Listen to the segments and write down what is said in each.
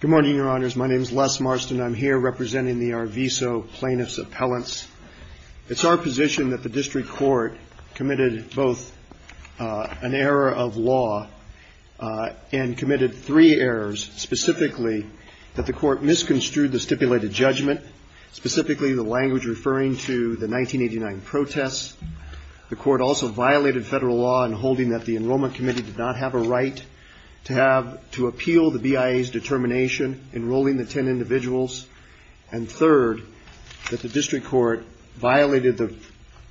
Good morning, your honors. My name is Les Marston. I'm here representing the Arviso plaintiffs' appellants. It's our position that the district court committed both an error of law and committed three errors, specifically that the court misconstrued the stipulated judgment, specifically the language referring to the 1989 protests. The court also violated federal law in holding that the enrollment committee did not have a right to appeal the BIA's determination enrolling the 10 individuals, and third, that the district court violated the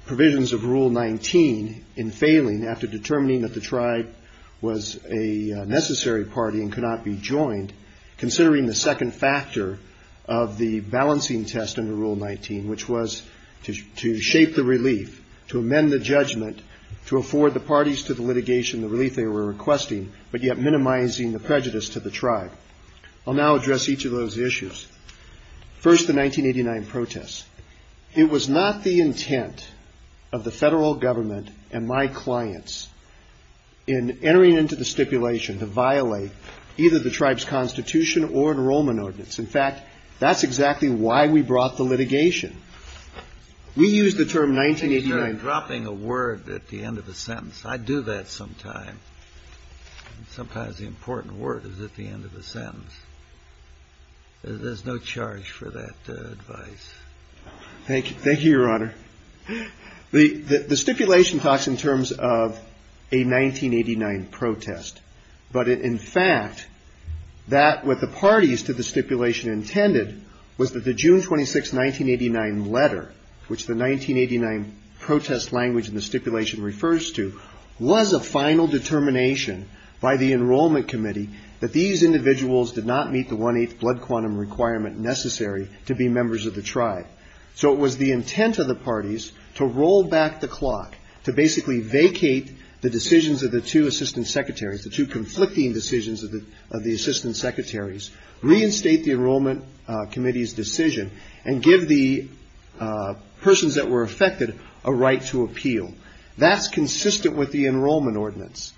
provisions of Rule 19 in failing after determining that the tribe was a necessary party and could not be joined, considering the second factor of the balancing test under Rule 19, which was to shape the relief, to amend the judgment, to afford the parties to the litigation the relief they were requesting, but yet minimizing the prejudice to the tribe. I'll now address each of those issues. First, the 1989 protests. It was not the intent of the federal government and my clients in entering into the stipulation to violate either the tribe's constitution or enrollment ordinance. In fact, that's exactly why we brought the litigation. We used the term 1989. You're dropping a word at the end of a sentence. I do that sometimes. Sometimes the important word is at the end of a sentence. There's no charge for that advice. Thank you. Thank you, Your Honor. The stipulation talks in terms of a 1989 protest, but in fact, that what the parties to the stipulation intended was that the June 26, 1989 letter, which the 1989 protest language in the stipulation refers to, was a final determination by the Enrollment Committee that these individuals did not meet the one-eighth blood quantum requirement necessary to be members of the tribe. So it was the intent of the parties to roll back the clock, to basically vacate the decisions of the two assistant secretaries, the two conflicting decisions of the assistant secretaries, reinstate the Enrollment Committee's decision, and give the persons that were affected a right to appeal. That's consistent with the enrollment ordinance.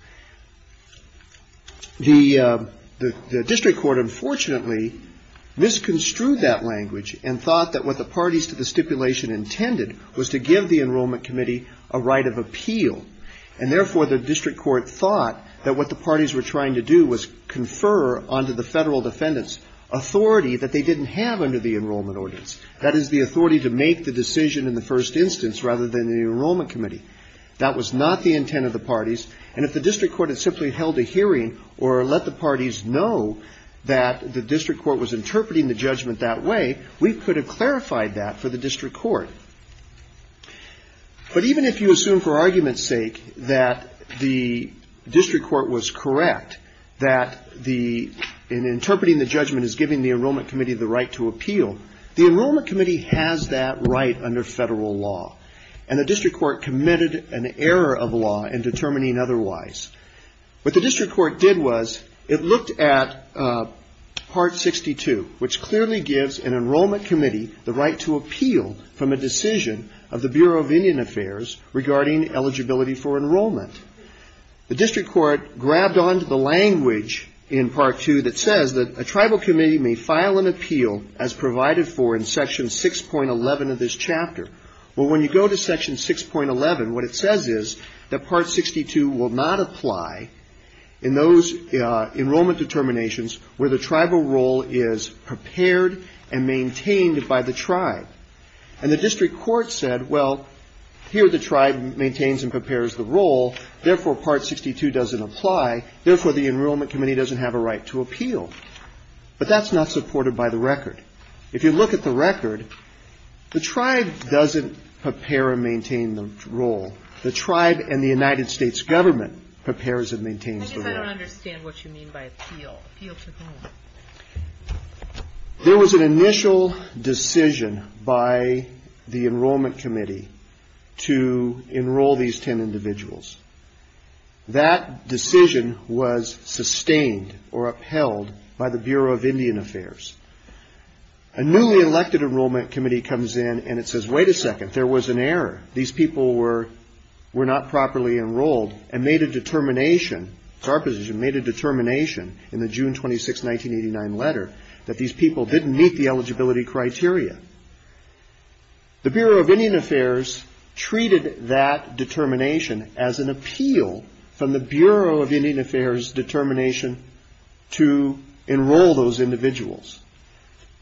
The district court, unfortunately, misconstrued that language and thought that what the parties to the stipulation intended was to give the Enrollment Committee a right of appeal, and therefore, the district court thought that what the parties were trying to do was confer onto the federal defendants authority that they didn't have under the enrollment ordinance. That is, the authority to make the decision in the first instance rather than the Enrollment Committee. That was not the intent of the parties, and if the district court had simply held a hearing or let the parties know that the district court was interpreting the judgment that way, we could have clarified that for the district court. But even if you assume, for argument's sake, that the district court was correct, that the interpreting the judgment is giving the Enrollment Committee the right to appeal, the Enrollment Committee has that right under federal law, and the district court committed an error of law in determining otherwise. What the district court did was, it looked at Part 62, which clearly gives an Enrollment Committee the right to appeal from a decision of the Bureau of Indian Affairs regarding eligibility for enrollment. The district court grabbed onto the language in Part 2 that says that a tribal committee may file an appeal as provided for in Section 6.11 of this chapter. But when you go to Section 6.11, what it says is that Part 62 will not apply in those enrollment determinations where the tribal role is prepared and maintained by the tribe. And the district court said, well, here the tribe maintains and prepares the role, therefore Part 62 doesn't apply, therefore the Enrollment Committee doesn't have a right to appeal. But that's not supported by the record. If you look at the record, the tribe doesn't prepare and maintain the role. The tribe and the United States government prepares and maintains the role. I don't understand what you mean by appeal. Appeal to whom? There was an initial decision by the Enrollment Committee to enroll these ten individuals. That decision was sustained or upheld by the Bureau of Indian Affairs. A newly elected Enrollment Committee comes in and it says, wait a second, there was an error. These people were not properly enrolled and made a determination, that's our position, made a determination in the June 26, 1989 letter that these people didn't meet the eligibility criteria. The Bureau of Indian Affairs treated that determination as an appeal from the Bureau of Indian Affairs determination to enroll those individuals.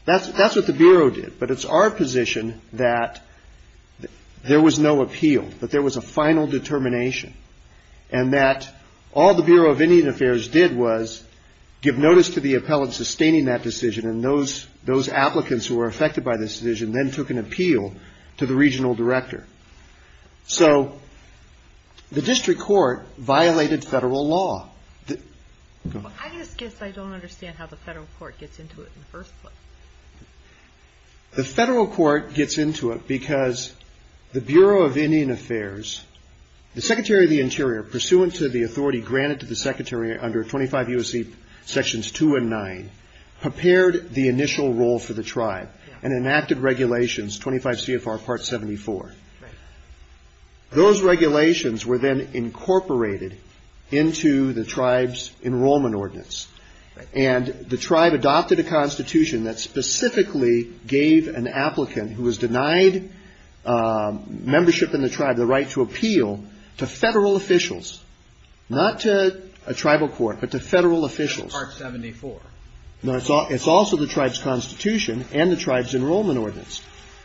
That's what the Bureau did, but it's our position that there was no appeal, that there was a final determination and that all the Bureau of Indian Affairs did was give notice to the appellant sustaining that decision and those applicants who were affected by this decision then took an appeal to the regional director. So the district court violated federal law. I just guess I don't understand how the federal court gets into it in the first place. The federal court gets into it because the Bureau of Indian Affairs, the Secretary of the Interior, pursuant to the authority granted to the Secretary under 25 U.S.C. Sections 2 and 9, prepared the initial role for the tribe and enacted regulations, 25 CFR Part 74. Those regulations were then incorporated into the tribe's enrollment ordinance and the tribe adopted a constitution that specifically gave an applicant who was denied membership in the tribe the right to appeal to federal officials, not to a tribal court, but to federal officials. Part 74. No, it's also the tribe's constitution and the tribe's enrollment ordinance.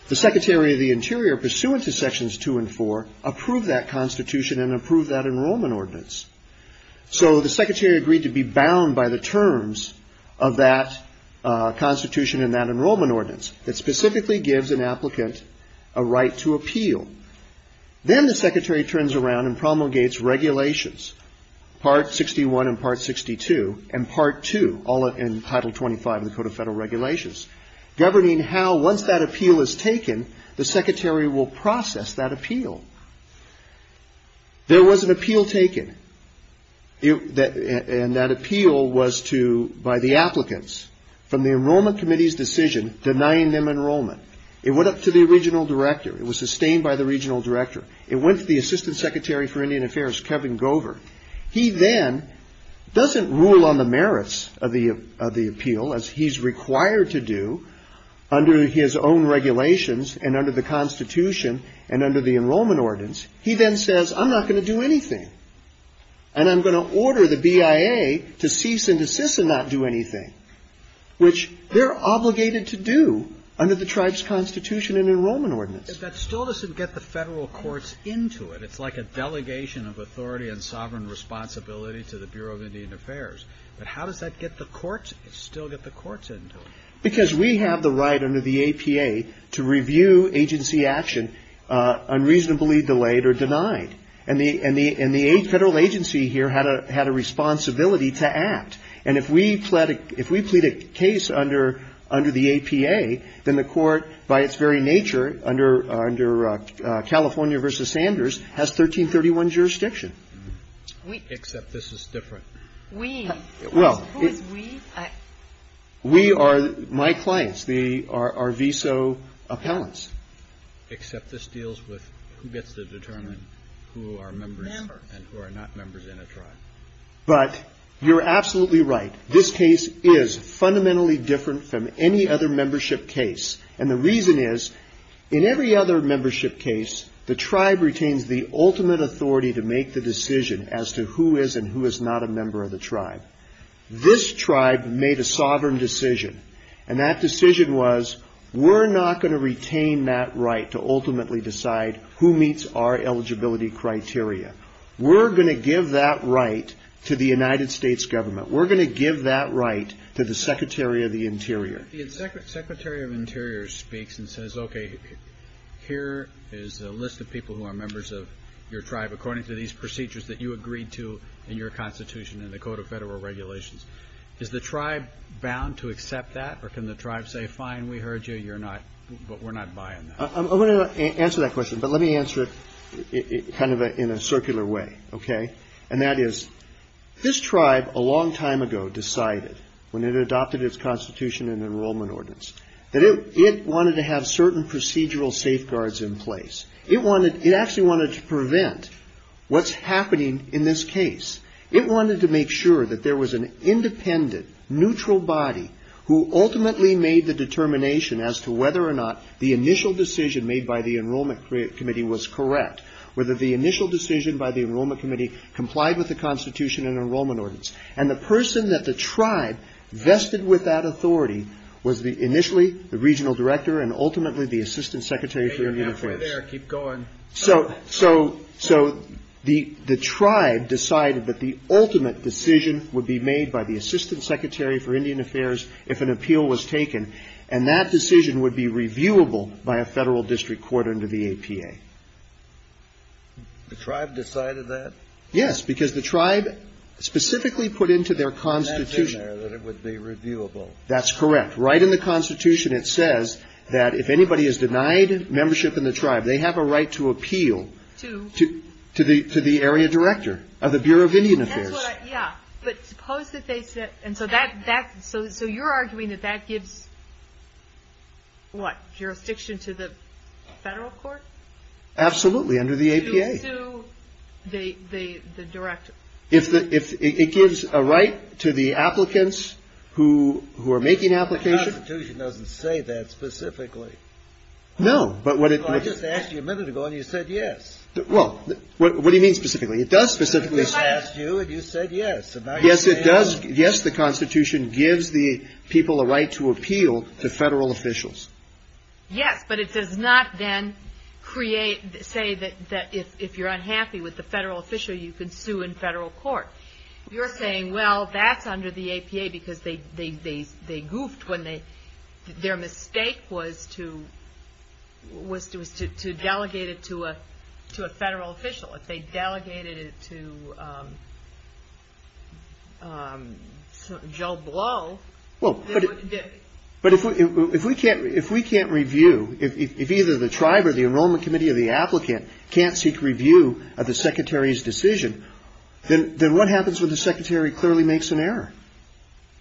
The Secretary of the Interior, pursuant to Sections 2 and 4, approved that constitution and approved that enrollment ordinance. So the Secretary agreed to be bound by the terms of that constitution and that enrollment ordinance that specifically gives an applicant a right to appeal. Then the Secretary turns around and promulgates regulations, Part 61 and Part 62 and Part 2, all in Title 25 of the Code of Federal Regulations, governing how, once that appeal was made, there was an appeal taken. That appeal was by the applicants, from the Enrollment Committee's decision, denying them enrollment. It went up to the Regional Director. It was sustained by the Regional Director. It went to the Assistant Secretary for Indian Affairs, Kevin Gover. He then doesn't rule on the merits of the appeal, as he's required to do, under his own regulations and under the constitution and under the enrollment ordinance. He then says, I'm not going to do anything. And I'm going to order the BIA to cease and desist and not do anything, which they're obligated to do under the tribe's constitution and enrollment ordinance. But that still doesn't get the federal courts into it. It's like a delegation of authority and sovereign responsibility to the Bureau of Indian Affairs. But how does that get the courts, still get the courts into it? Because we have the right under the APA to review agency action unreasonably delayed or denied. And the federal agency here had a responsibility to act. And if we plead a case under the APA, then the court, by its very nature, under California v. Sanders, has 1331 jurisdiction. Except this is different. We? Who is we? We are my clients. They are our VSO appellants. Except this deals with who gets to determine who our members are and who are not members in a tribe. But you're absolutely right. This case is fundamentally different from any other membership case. And the reason is, in every other membership case, the tribe retains the ultimate authority to make the decision as to who is and who is not a member of the tribe. This tribe made a sovereign decision. And that decision was, we're not going to retain that right to ultimately decide who meets our eligibility criteria. We're going to give that right to the United States government. We're going to give that right to the Secretary of the Interior. Secretary of Interior speaks and says, okay, here is a list of people who are members of your tribe, according to these procedures that you agreed to in your Constitution and the Code of Federal Regulations. Is the tribe bound to accept that? Or can the tribe say, fine, we heard you, but we're not buying that? I'm going to answer that question, but let me answer it kind of in a circular way, okay? And that is, this tribe, a long time ago, decided, when it adopted its Constitution and Enrollment Ordinance, that it wanted to have certain procedural safeguards in place. It wanted, it actually wanted to prevent what's happening in this case. It wanted to make sure that there was an independent, neutral body who ultimately made the determination as to whether or not the initial decision made by the Enrollment Committee was correct, whether the initial decision by the Enrollment Committee complied with the Constitution and Enrollment Ordinance. And the person that the tribe vested with that authority was initially the Regional Director and ultimately the Assistant Secretary for Human Affairs. There, keep going. So, so, so, the, the tribe decided that the ultimate decision would be made by the Assistant Secretary for Indian Affairs if an appeal was taken, and that decision would be reviewable by a federal district court under the APA. The tribe decided that? Yes, because the tribe specifically put into their Constitution. That's in there, that it would be reviewable. That's correct. Right in the Constitution, it says that if anybody is denied membership in the tribe, they have a right to appeal to, to the, to the Area Director of the Bureau of Indian Affairs. That's what, yeah, but suppose that they said, and so that, that, so, so you're arguing that that gives, what, jurisdiction to the federal court? Absolutely under the APA. To sue the, the, the director. If the, if it gives a right to the applicants who, who are making applications. The Constitution doesn't say that specifically. No, but what it. I just asked you a minute ago, and you said yes. Well, what, what do you mean specifically? It does specifically. I just asked you, and you said yes. Yes, it does. Yes, the Constitution gives the people a right to appeal to federal officials. Yes, but it does not then create, say that, that if, if you're unhappy with the federal official, you can sue in federal court. You're saying, well, that's under the APA, because they, they, they, they goofed when they, their mistake was to, was to, was to, to delegate it to a, to a federal official, if they delegated it to Joe Blow. Well, but, but if we, if we can't, if we can't review, if, if, if either the tribe or the enrollment committee or the applicant can't seek review of the secretary's decision, then, then what happens when the secretary clearly makes an error?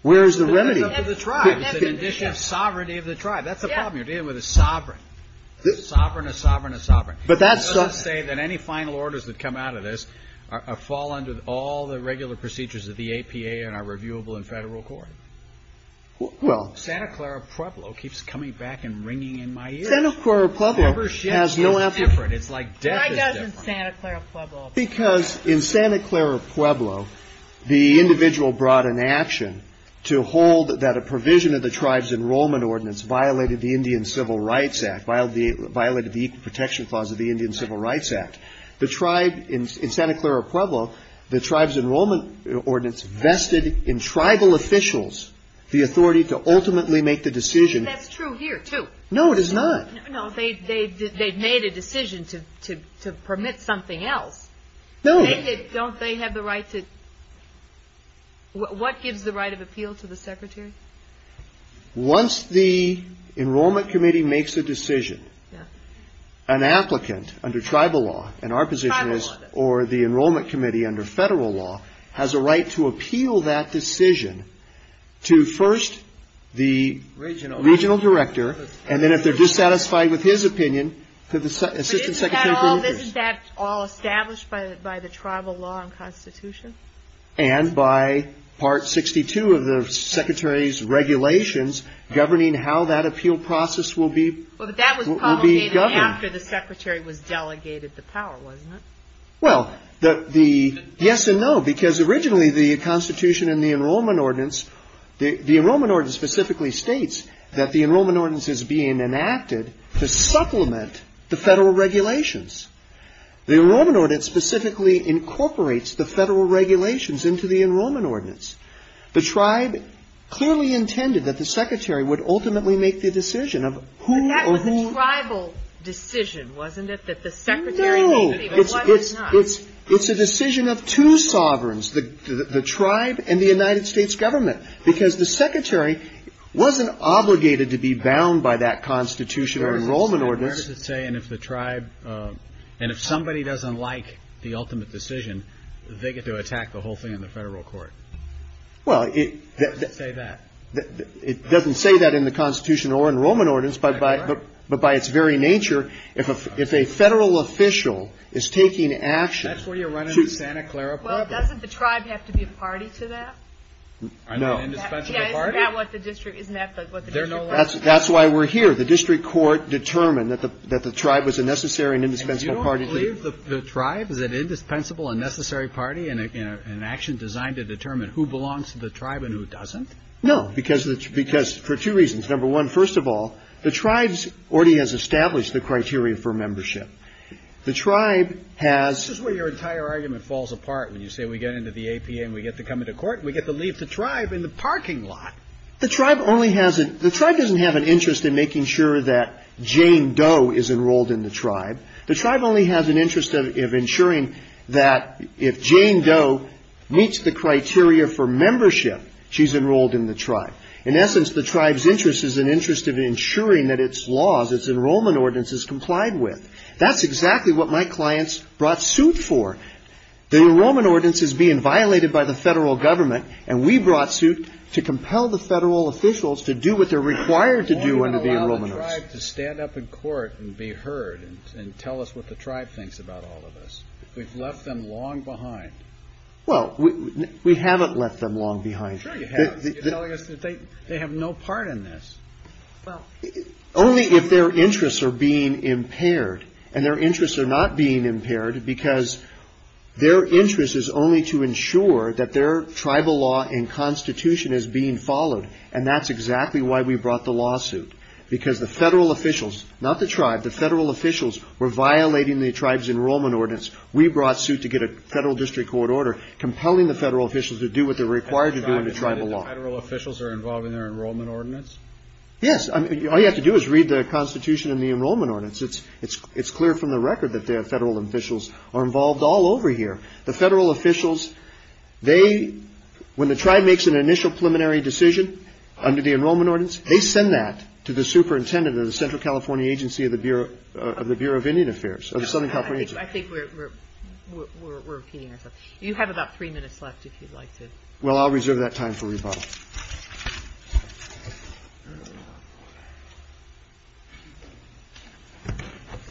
Where's the remedy? It's the condition of the tribe. It's the condition of sovereignty of the tribe. That's the problem. You're dealing with a sovereign. A sovereign, a sovereign, a sovereign. But that's. It doesn't say that any final orders that come out of this are, fall under all the regular procedures of the APA and are reviewable in federal court. Well. Santa Clara Pueblo keeps coming back and ringing in my ears. Santa Clara Pueblo. Whoever shifts is different. It's like death is different. Why doesn't Santa Clara Pueblo? Because in Santa Clara Pueblo, the individual brought an action to hold that a provision of the tribe's enrollment ordinance violated the Indian Civil Rights Act, violated the equal protection clause of the Indian Civil Rights Act. The tribe in Santa Clara Pueblo, the tribe's enrollment ordinance vested in tribal officials the authority to ultimately make the decision. That's true here too. No, it is not. No, they, they, they've made a decision to, to, to permit something else. No. Don't they have the right to. What gives the right of appeal to the secretary? Once the enrollment committee makes a decision, an applicant under tribal law and our position is or the enrollment committee under federal law has a right to appeal that decision to first the regional, regional director. And then if they're dissatisfied with his opinion, could the assistant secretary. Isn't that all established by the, by the tribal law and constitution? And by part 62 of the secretary's regulations governing how that appeal process will be governed. After the secretary was delegated the power, wasn't it? Well, the, the yes and no, because originally the constitution and the enrollment ordinance, the, the enrollment ordinance specifically states that the enrollment ordinance is being enacted to supplement the federal regulations. The enrollment ordinance specifically incorporates the federal regulations into the enrollment ordinance. The tribe clearly intended that the secretary would ultimately make the decision of who or who. That was a tribal decision, wasn't it? That the secretary. No. It's, it's, it's, it's a decision of two sovereigns, the, the, the tribe and the United States government. Because the secretary wasn't obligated to be bound by that constitution or enrollment ordinance. And if the tribe, and if somebody doesn't like the ultimate decision, they get to attack the whole thing in the federal court. Well, it doesn't say that in the constitution or enrollment ordinance, but by, but by its very nature, if a, if a federal official is taking action. That's where you're running the Santa Clara problem. Well, doesn't the tribe have to be a party to that? No. An indispensable party? Yeah, isn't that what the district, isn't that what the district court? That's why we're here. The district court determined that the, that the tribe was a necessary and indispensable party to it. And you don't believe the tribe is an indispensable and necessary party in a, in a, in an action designed to determine who belongs to the tribe and who doesn't? No, because, because for two reasons, number one, first of all, the tribes already has established the criteria for membership. The tribe has. That's just where your entire argument falls apart when you say we get into the APA and we get to come into court and we get to leave the tribe in the parking lot. The tribe only has an, the tribe doesn't have an interest in making sure that Jane Doe is enrolled in the tribe. The tribe only has an interest of, of ensuring that if Jane Doe meets the criteria for membership, she's enrolled in the tribe. In essence, the tribe's interest is an interest of ensuring that its laws, its enrollment ordinance is complied with. That's exactly what my clients brought suit for. The enrollment ordinance is being violated by the federal government. And we brought suit to compel the federal officials to do what they're required to Well, you've got to allow the tribe to stand up in court and be heard and, and tell us what the tribe thinks about all of this. We've left them long behind. Well, we, we haven't left them long behind. Sure you have. You're telling us that they, they have no part in this. Well, only if their interests are being impaired and their interests are not being impaired because their interest is only to ensure that their tribal law and constitution is being followed. And that's exactly why we brought the lawsuit because the federal officials, not the tribe, the federal officials were violating the tribe's enrollment ordinance. We brought suit to get a federal district court order compelling the federal officials to do what they're required to do in the tribal law. Federal officials are involved in their enrollment ordinance? Yes. I mean, all you have to do is read the constitution and the enrollment ordinance. It's, it's, it's clear from the record that their federal officials are involved all over here. The federal officials, they, when the tribe makes an initial preliminary decision under the enrollment ordinance, they send that to the superintendent of the central California agency of the Bureau of the Bureau of Indian Affairs or the Southern California agency. I think we're, we're, we're, we're, we're repeating ourselves. You have about three minutes left if you'd like to. Well, I'll reserve that time for rebuttal.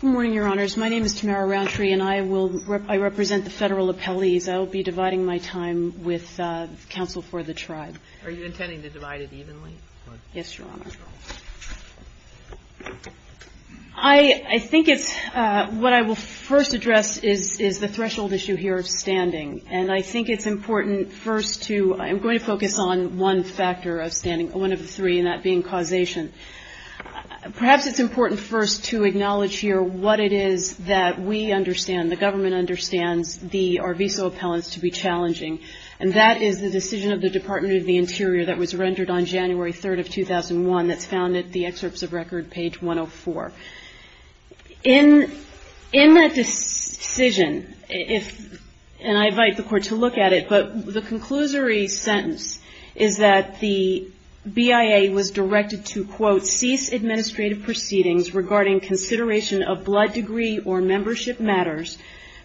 Good morning, your honors. My name is Tamara Rountree and I will rep, I represent the federal appellees. I will be dividing my time with counsel for the tribe. Are you intending to divide it evenly? Yes, your honor. I think it's, what I will first address is, is the threshold issue here of standing. And I think it's important first to, I'm going to focus on one factor of standing, one of the three, and that being causation. Perhaps it's important first to acknowledge here what it is that we understand, the government understands the, our visa appellants to be challenging. And that is the decision of the Department of the Interior that was rendered on January 3rd of 2001 that's found at the excerpts of record page 104. In, in that decision, if, and I invite the court to look at it, but the conclusory sentence is that the BIA was directed to, quote, cease administrative proceedings regarding consideration of blood degree or membership matters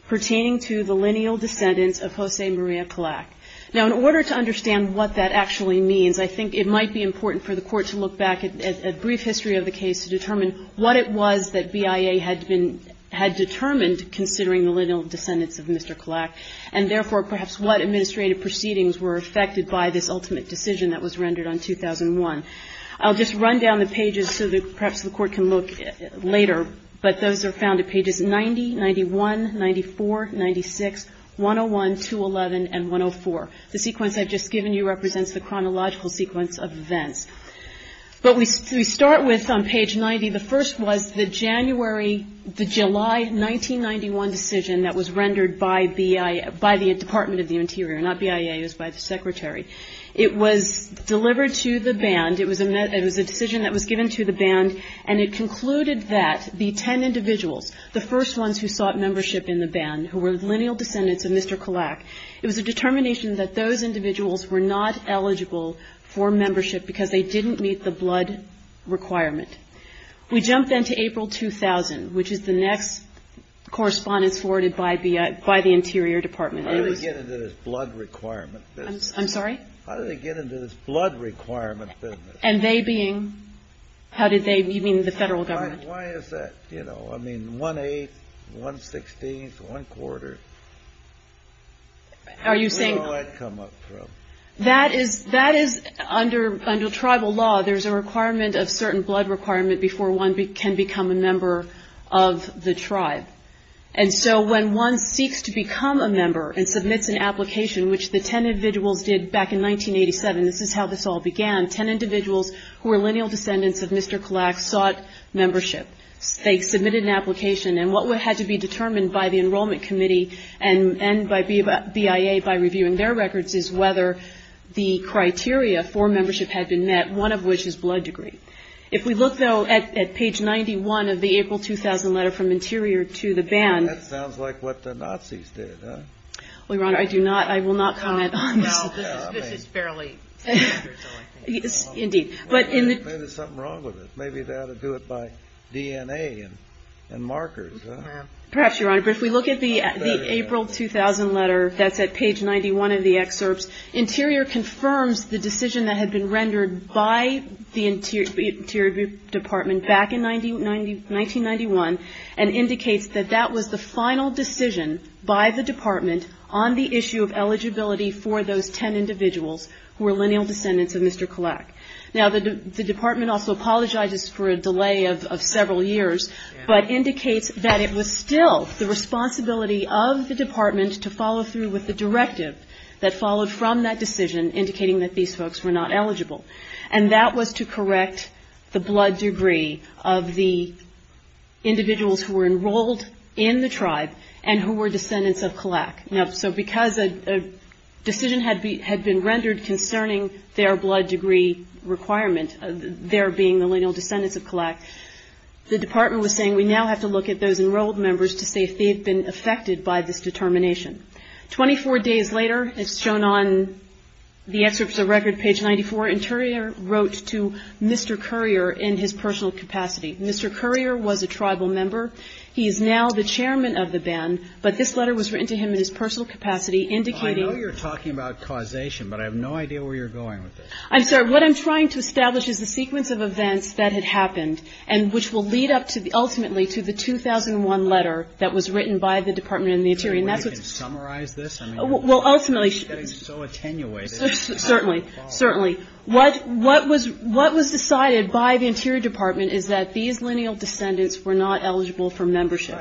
pertaining to the lineal descendants of Jose Maria Clack. Now in order to understand what that actually means, I think it might be important for the court to look at what it was that BIA had been, had determined considering the lineal descendants of Mr. Clack, and therefore perhaps what administrative proceedings were affected by this ultimate decision that was rendered on 2001. I'll just run down the pages so that perhaps the court can look later, but those are found at pages 90, 91, 94, 96, 101, 211, and 104. The sequence I've just given you represents the chronological sequence of events. What we start with on page 90, the first was the January, the July 1991 decision that was rendered by BIA, by the Department of the Interior, not BIA, it was by the Secretary. It was delivered to the band, it was a decision that was given to the band, and it concluded that the ten individuals, the first ones who sought membership in the band, who were lineal descendants of Mr. Clack, it was a determination that those individuals were not eligible for membership, that they didn't meet the blood requirement. We jump then to April 2000, which is the next correspondence forwarded by the Interior Department. How did they get into this blood requirement business? I'm sorry? How did they get into this blood requirement business? And they being, how did they, you mean the federal government? Why is that, you know, I mean, one-eighth, one-sixteenth, one-quarter? Are you saying? Where did all that come up from? That is, that is, under tribal law, there's a requirement of certain blood requirement before one can become a member of the tribe. And so when one seeks to become a member and submits an application, which the ten individuals did back in 1987, this is how this all began, ten individuals who were lineal descendants of Mr. Clack sought membership. They submitted an application, and what had to be determined by the Enrollment Committee and by BIA by reviewing their records is whether the criteria for membership had been met, one of which is blood degree. If we look, though, at page 91 of the April 2000 letter from Interior to the band. That sounds like what the Nazis did, huh? Well, Your Honor, I do not, I will not comment on this. No, this is fairly standard, so I think. Indeed. But in the Maybe there's something wrong with it. Maybe they ought to do it by DNA and markers, huh? Perhaps, Your Honor. But if we look at the April 2000 letter that's at page 91 of the excerpts, Interior confirms the decision that had been rendered by the Interior Department back in 1991 and indicates that that was the final decision by the Department on the issue of eligibility for those ten individuals who were lineal descendants of Mr. Clack. Now the Department also apologizes for a delay of several years, but indicates that it was still the responsibility of the Department to follow through with the directive that followed from that decision indicating that these folks were not eligible. And that was to correct the blood degree of the individuals who were enrolled in the tribe and who were descendants of Clack. So because a decision had been rendered concerning their blood degree requirement, their being the lineal descendants of Clack, the Department was saying we now have to look at those enrolled members to say if they had been affected by this determination. Twenty-four days later, as shown on the excerpts of record, page 94, Interior wrote to Mr. Currier in his personal capacity. Mr. Currier was a tribal member. He is now the chairman of the band, but this letter was written to him in his personal capacity indicating... I know you're talking about causation, but I have no idea where you're going with this. I'm sorry. What I'm trying to establish is the sequence of events that had happened and which will lead up ultimately to the 2001 letter that was written by the Department and the Interior. Is there a way you can summarize this? Well, ultimately... You're getting so attenuated. Certainly. Certainly. What was decided by the Interior Department is that these lineal descendants were not eligible for membership.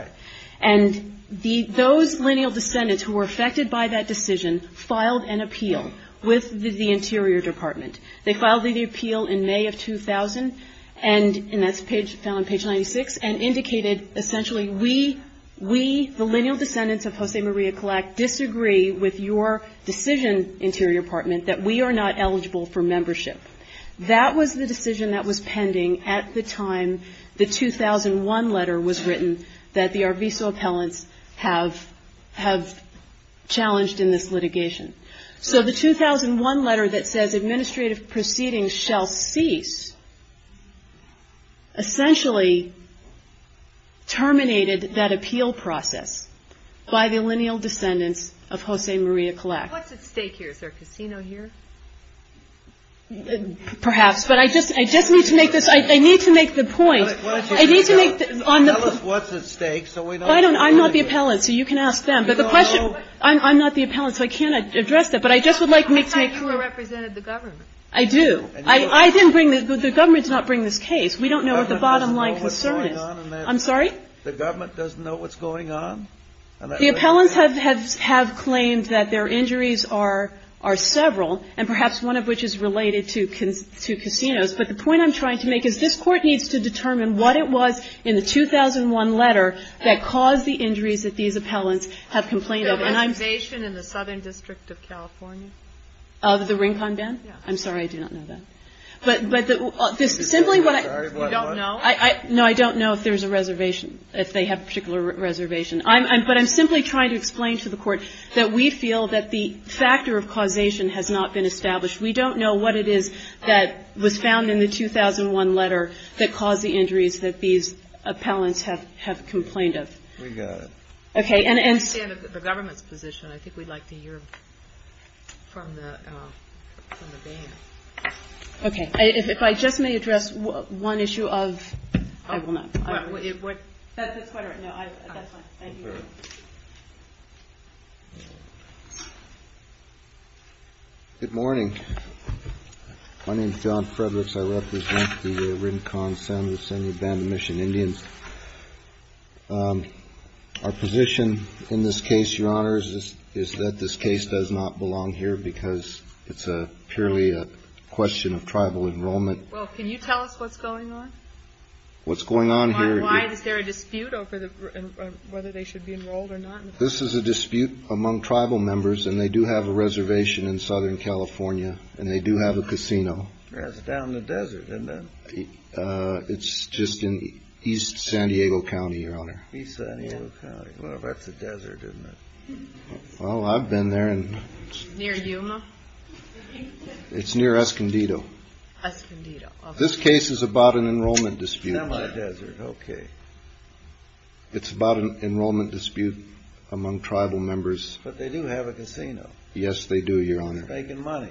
And those lineal descendants who were affected by that decision filed an appeal with the Interior Department. They filed the appeal in May of 2000, and that's found on page 96, and indicated essentially we, the lineal descendants of Jose Maria Collac, disagree with your decision, Interior Department, that we are not eligible for membership. That was the decision that was pending at the time the 2001 letter was written that the Arvizo appellants have challenged in this litigation. So the 2001 letter that says administrative proceedings shall cease essentially terminated that appeal process by the lineal descendants of Jose Maria Collac. What's at stake here? Is there a casino here? Perhaps. But I just need to make this... I need to make the point. Why don't you speak up? Tell us what's at stake so we don't... I'm not the appellant, so you can ask them. But the question... You don't know? I'm not the appellant, so I can't address that. But I just would like me to make... I thought you represented the government. I do. I didn't bring this. The government did not bring this case. We don't know what the bottom line concern is. I'm sorry? The government doesn't know what's going on? The appellants have claimed that their injuries are several, and perhaps one of which is related to casinos. But the point I'm trying to make is this Court needs to determine what it was in the 2001 letter that caused the injuries that these appellants have complained of. Reservation in the Southern District of California? The Rincon Band? I'm sorry, I do not know that. But simply what I... You don't know? No, I don't know if there's a reservation, if they have a particular reservation. But I'm simply trying to explain to the Court that we feel that the factor of causation has not been established. We don't know what it is that was found in the 2001 letter that caused the injuries that these appellants have complained of. We got it. Okay, and... I understand the government's position. I think we'd like to hear from the Band. Okay. If I just may address one issue of... I will not. That's quite all right. No, that's fine. Thank you. Good morning. My name is John Fredericks. I represent the Rincon San Ysidro Band of Mission Indians. Our position in this case, Your Honor, is that this case does not belong here because it's purely a question of tribal enrollment. Well, can you tell us what's going on? What's going on here? Why is there a dispute over whether they should be enrolled or not? This is a dispute among tribal members, and they do have a reservation in Southern California, and they do have a casino. Yeah, it's down in the desert, isn't it? It's just in East San Diego County, Your Honor. East San Diego County. Well, that's a desert, isn't it? Well, I've been there, and... Near Yuma? It's near Escondido. Escondido, okay. This case is about an enrollment dispute. In the desert, okay. It's about an enrollment dispute among tribal members. But they do have a casino. Yes, they do, Your Honor. They're making money.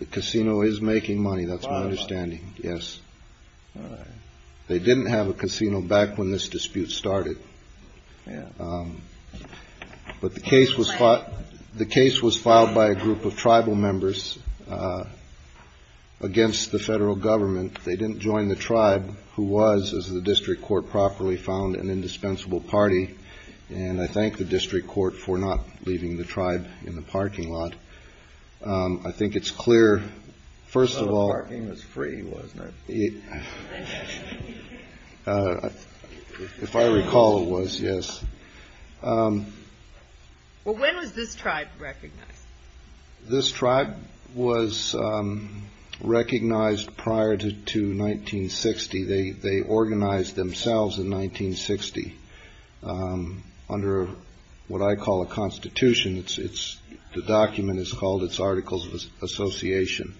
The casino is making money. That's my understanding. Yes. All right. They didn't have a casino back when this dispute started. Yeah. But the case was filed by a group of tribal members against the federal government. They didn't join the tribe, who was, as the district court properly found, an indispensable party. And I thank the district court for not leaving the tribe in the parking lot. I think it's clear, first of all... If I recall, it was, yes. Well, when was this tribe recognized? This tribe was recognized prior to 1960. They organized themselves in 1960 under what I call a constitution. The document is called its Articles of Association.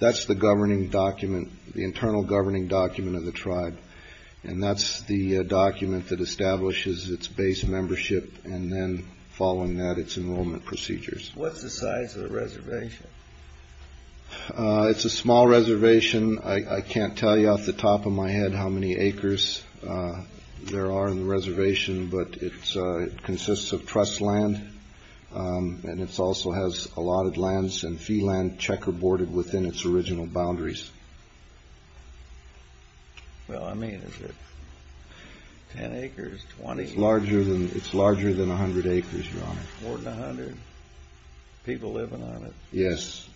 That's the governing document, the internal governing document of the tribe. And that's the document that establishes its base membership and then, following that, its enrollment procedures. What's the size of the reservation? It's a small reservation. I can't tell you off the top of my head how many acres there are in the reservation. But it consists of trust land. And it also has allotted lands and fee land checkerboarded within its original boundaries. Well, I mean, is it 10 acres, 20? It's larger than 100 acres, Your Honor. More than 100? People living on it? Yes.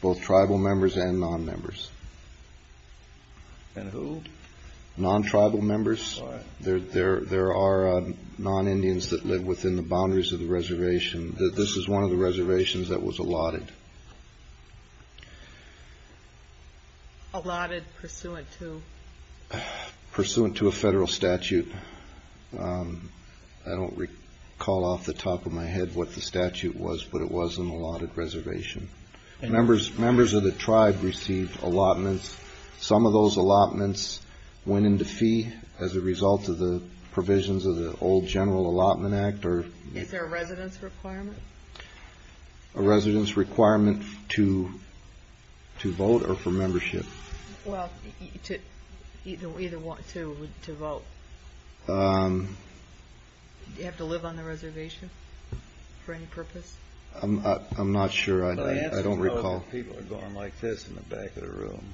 Both tribal members and non-members. And who? Non-tribal members. There are non-Indians that live within the boundaries of the reservation. This is one of the reservations that was allotted. Allotted pursuant to? Pursuant to a federal statute. I don't recall off the top of my head what the statute was, but it was an allotted reservation. Members of the tribe received allotments. Some of those allotments went into fee as a result of the provisions of the old General Allotment Act. Is there a residence requirement? A residence requirement to vote or for membership? Well, to vote. Do you have to live on the reservation for any purpose? I'm not sure. I don't recall. People are going like this in the back of the room.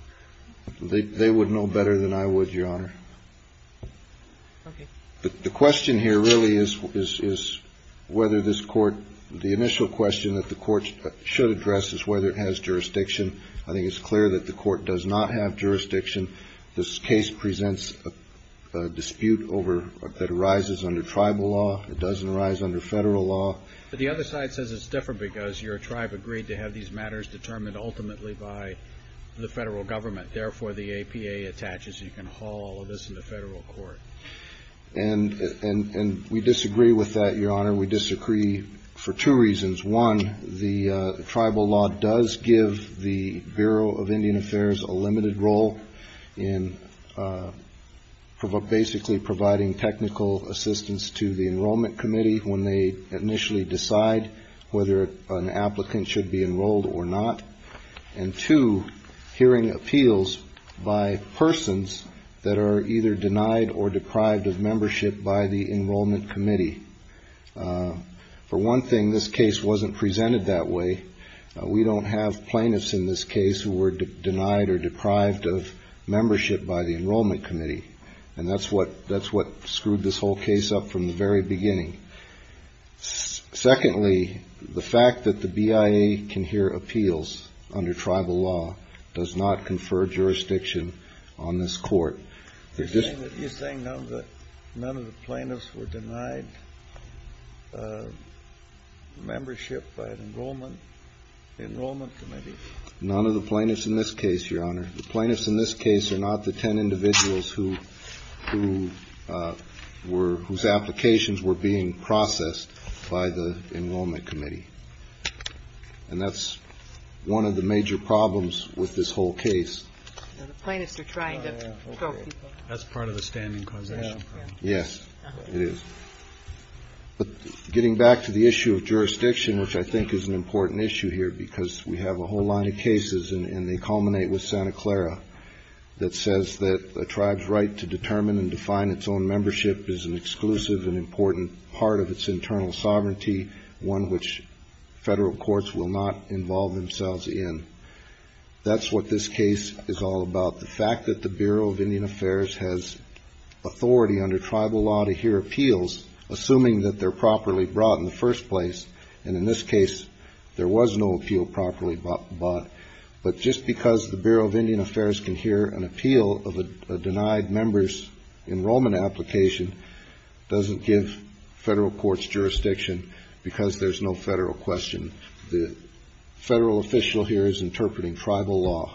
They would know better than I would, Your Honor. The question here really is whether this court, the initial question that the court should address is whether it has jurisdiction. I think it's clear that the court does not have jurisdiction. This case presents a dispute that arises under tribal law. It doesn't arise under federal law. But the other side says it's different because your tribe agreed to have these matters determined ultimately by the federal government. Therefore, the APA attaches. You can haul all of this into federal court. And we disagree with that, Your Honor. We disagree for two reasons. One, the tribal law does give the Bureau of Indian Affairs a limited role in basically providing technical assistance to the Enrollment Committee when they initially decide whether an applicant should be enrolled or not. And two, hearing appeals by persons that are either denied or deprived of membership by the Enrollment Committee. For one thing, this case wasn't presented that way. We don't have plaintiffs in this case who were denied or deprived of membership by the Enrollment Committee. And that's what screwed this whole case up from the very beginning. Secondly, the fact that the BIA can hear appeals under tribal law does not confer jurisdiction on this court. You're saying that none of the plaintiffs were denied membership by the Enrollment Committee? None of the plaintiffs in this case, Your Honor. The plaintiffs in this case are not the ten individuals whose applications were being processed by the Enrollment Committee. And that's one of the major problems with this whole case. The plaintiffs are trying to choke people. That's part of the standing causation. Yes, it is. But getting back to the issue of jurisdiction, which I think is an important issue here, because we have a whole line of cases, and they culminate with Santa Clara, that says that a tribe's right to determine and define its own membership is an exclusive and important part of its internal sovereignty, one which federal courts will not involve themselves in. That's what this case is all about. The fact that the Bureau of Indian Affairs has authority under tribal law to hear appeals, assuming that they're properly brought in the first place, and in this case, there was no appeal properly brought, but just because the Bureau of Indian Affairs can hear an appeal of a denied member's enrollment application doesn't give federal courts jurisdiction because there's no federal question. The federal official here is interpreting tribal law.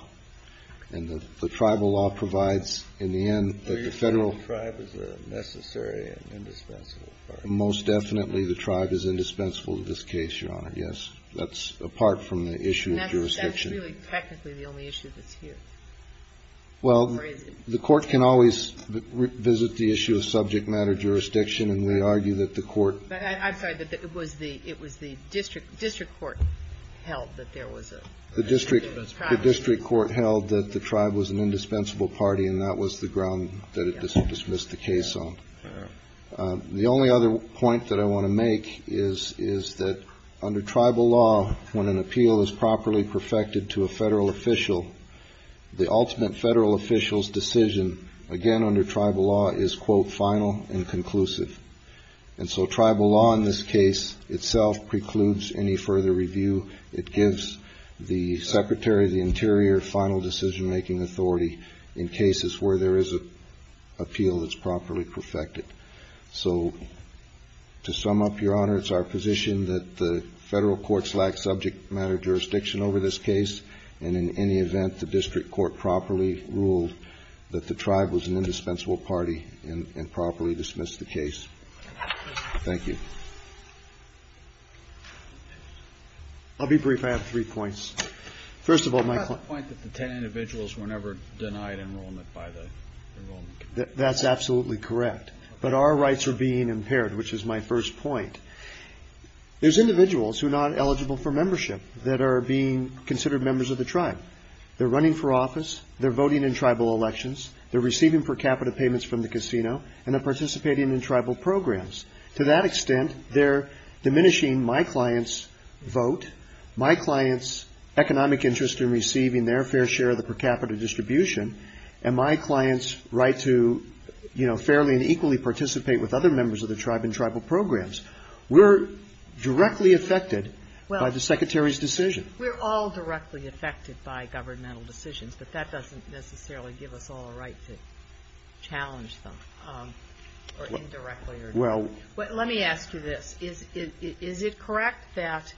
And the tribal law provides, in the end, that the federal... So you're saying the tribe is a necessary and indispensable part? Most definitely the tribe is indispensable to this case, Your Honor, yes. That's apart from the issue of jurisdiction. And that's really technically the only issue that's here? Well, the court can always revisit the issue of subject matter jurisdiction, and they argue that the court... I'm sorry, that it was the district court held that there was a... The district court held that the tribe was an indispensable party, and that was the ground that it dismissed the case on. The only other point that I want to make is that under tribal law, when an appeal is properly perfected to a federal official, the ultimate federal official's decision, again, under tribal law, is, quote, final and conclusive. And so tribal law in this case itself precludes any further review. It gives the Secretary of the Interior final decision-making authority in cases where there is an appeal that's properly perfected. So to sum up, Your Honor, it's our position that the federal courts lack subject matter jurisdiction over this case, and in any event, the district court properly ruled that the tribe was an indispensable party and properly dismissed the case. Thank you. I'll be brief. I have three points. First of all, my client... How about the point that the ten individuals were never denied enrollment by the... That's absolutely correct, but our rights are being impaired, which is my first point. There's individuals who are not eligible for membership that are being considered members of the tribe. They're running for office, they're voting in tribal elections, they're receiving per capita payments from the casino, and they're participating in tribal programs. To that extent, they're diminishing my client's vote, my client's economic interest in receiving their fair share of the per capita distribution, and my client's right to fairly and equally participate with other members of the tribe in tribal programs. We're directly affected by the Secretary's decision. We're all directly affected by governmental decisions, but that doesn't necessarily give us all a right to challenge them, or indirectly or... Well... Let me ask you this. Is it correct that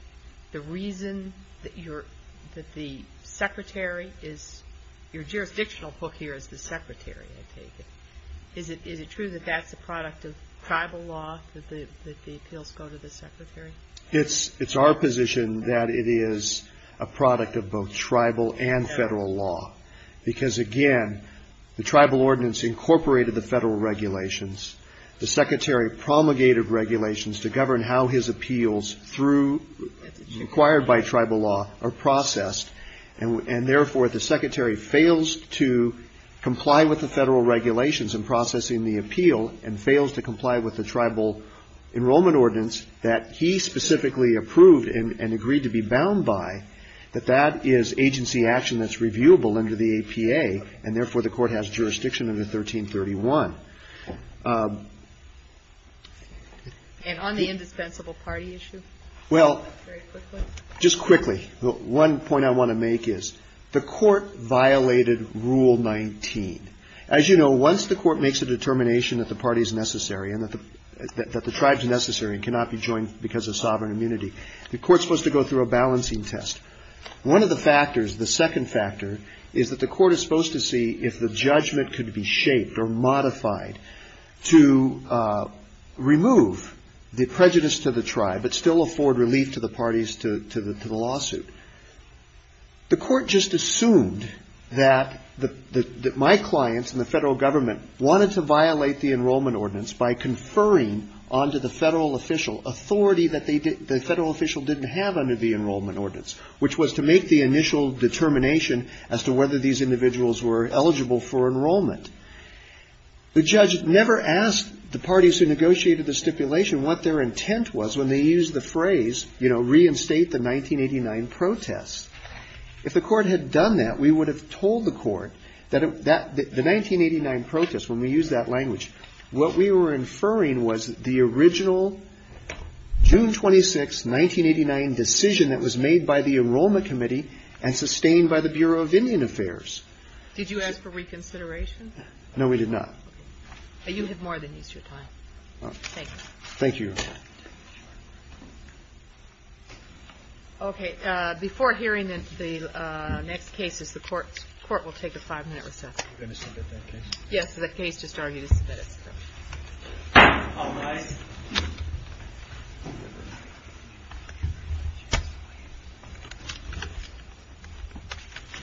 the reason that the Secretary is... Your jurisdictional book here is the Secretary, I take it. Is it true that that's a product of tribal law, that the appeals go to the Secretary? It's our position that it is a product of both tribal and federal law, because, again, the tribal ordinance incorporated the federal regulations. The Secretary promulgated regulations to govern how his appeals through... acquired by tribal law are processed, and therefore the Secretary fails to comply with the federal regulations in processing the appeal, and fails to comply with the tribal enrollment ordinance that he specifically approved and agreed to be bound by, that that is agency action that's reviewable under the APA, and therefore the court has jurisdiction under 1331. And on the indispensable party issue? Well... Very quickly? Just quickly. One point I want to make is the court violated Rule 19. As you know, once the court makes a determination that the party is necessary and that the tribe's necessary and cannot be joined because of sovereign immunity, the court's supposed to go through a balancing test. One of the factors, the second factor, is that the court is supposed to see if the judgment could be shaped or modified to remove the prejudice to the tribe but still afford relief to the parties to the lawsuit. The court just assumed that my clients and the federal government wanted to violate the enrollment ordinance by conferring onto the federal official authority that the federal official didn't have under the enrollment ordinance, which was to make the initial determination as to whether these individuals were eligible for enrollment. The judge never asked the parties who negotiated the stipulation what their intent was when they used the phrase, you know, reinstate the 1989 protests. If the court had done that, we would have told the court that the 1989 protests, when we used that language, what we were inferring was the original June 26, 1989, decision that was made by the Enrollment Committee and sustained by the Bureau of Indian Affairs. Did you ask for reconsideration? No, we did not. Okay. You have more than is your time. Thank you. Thank you. Okay. Before hearing the next cases, the court will take a five-minute recess. Are you going to submit that case? Yes. The case just argued is submitted. All rise.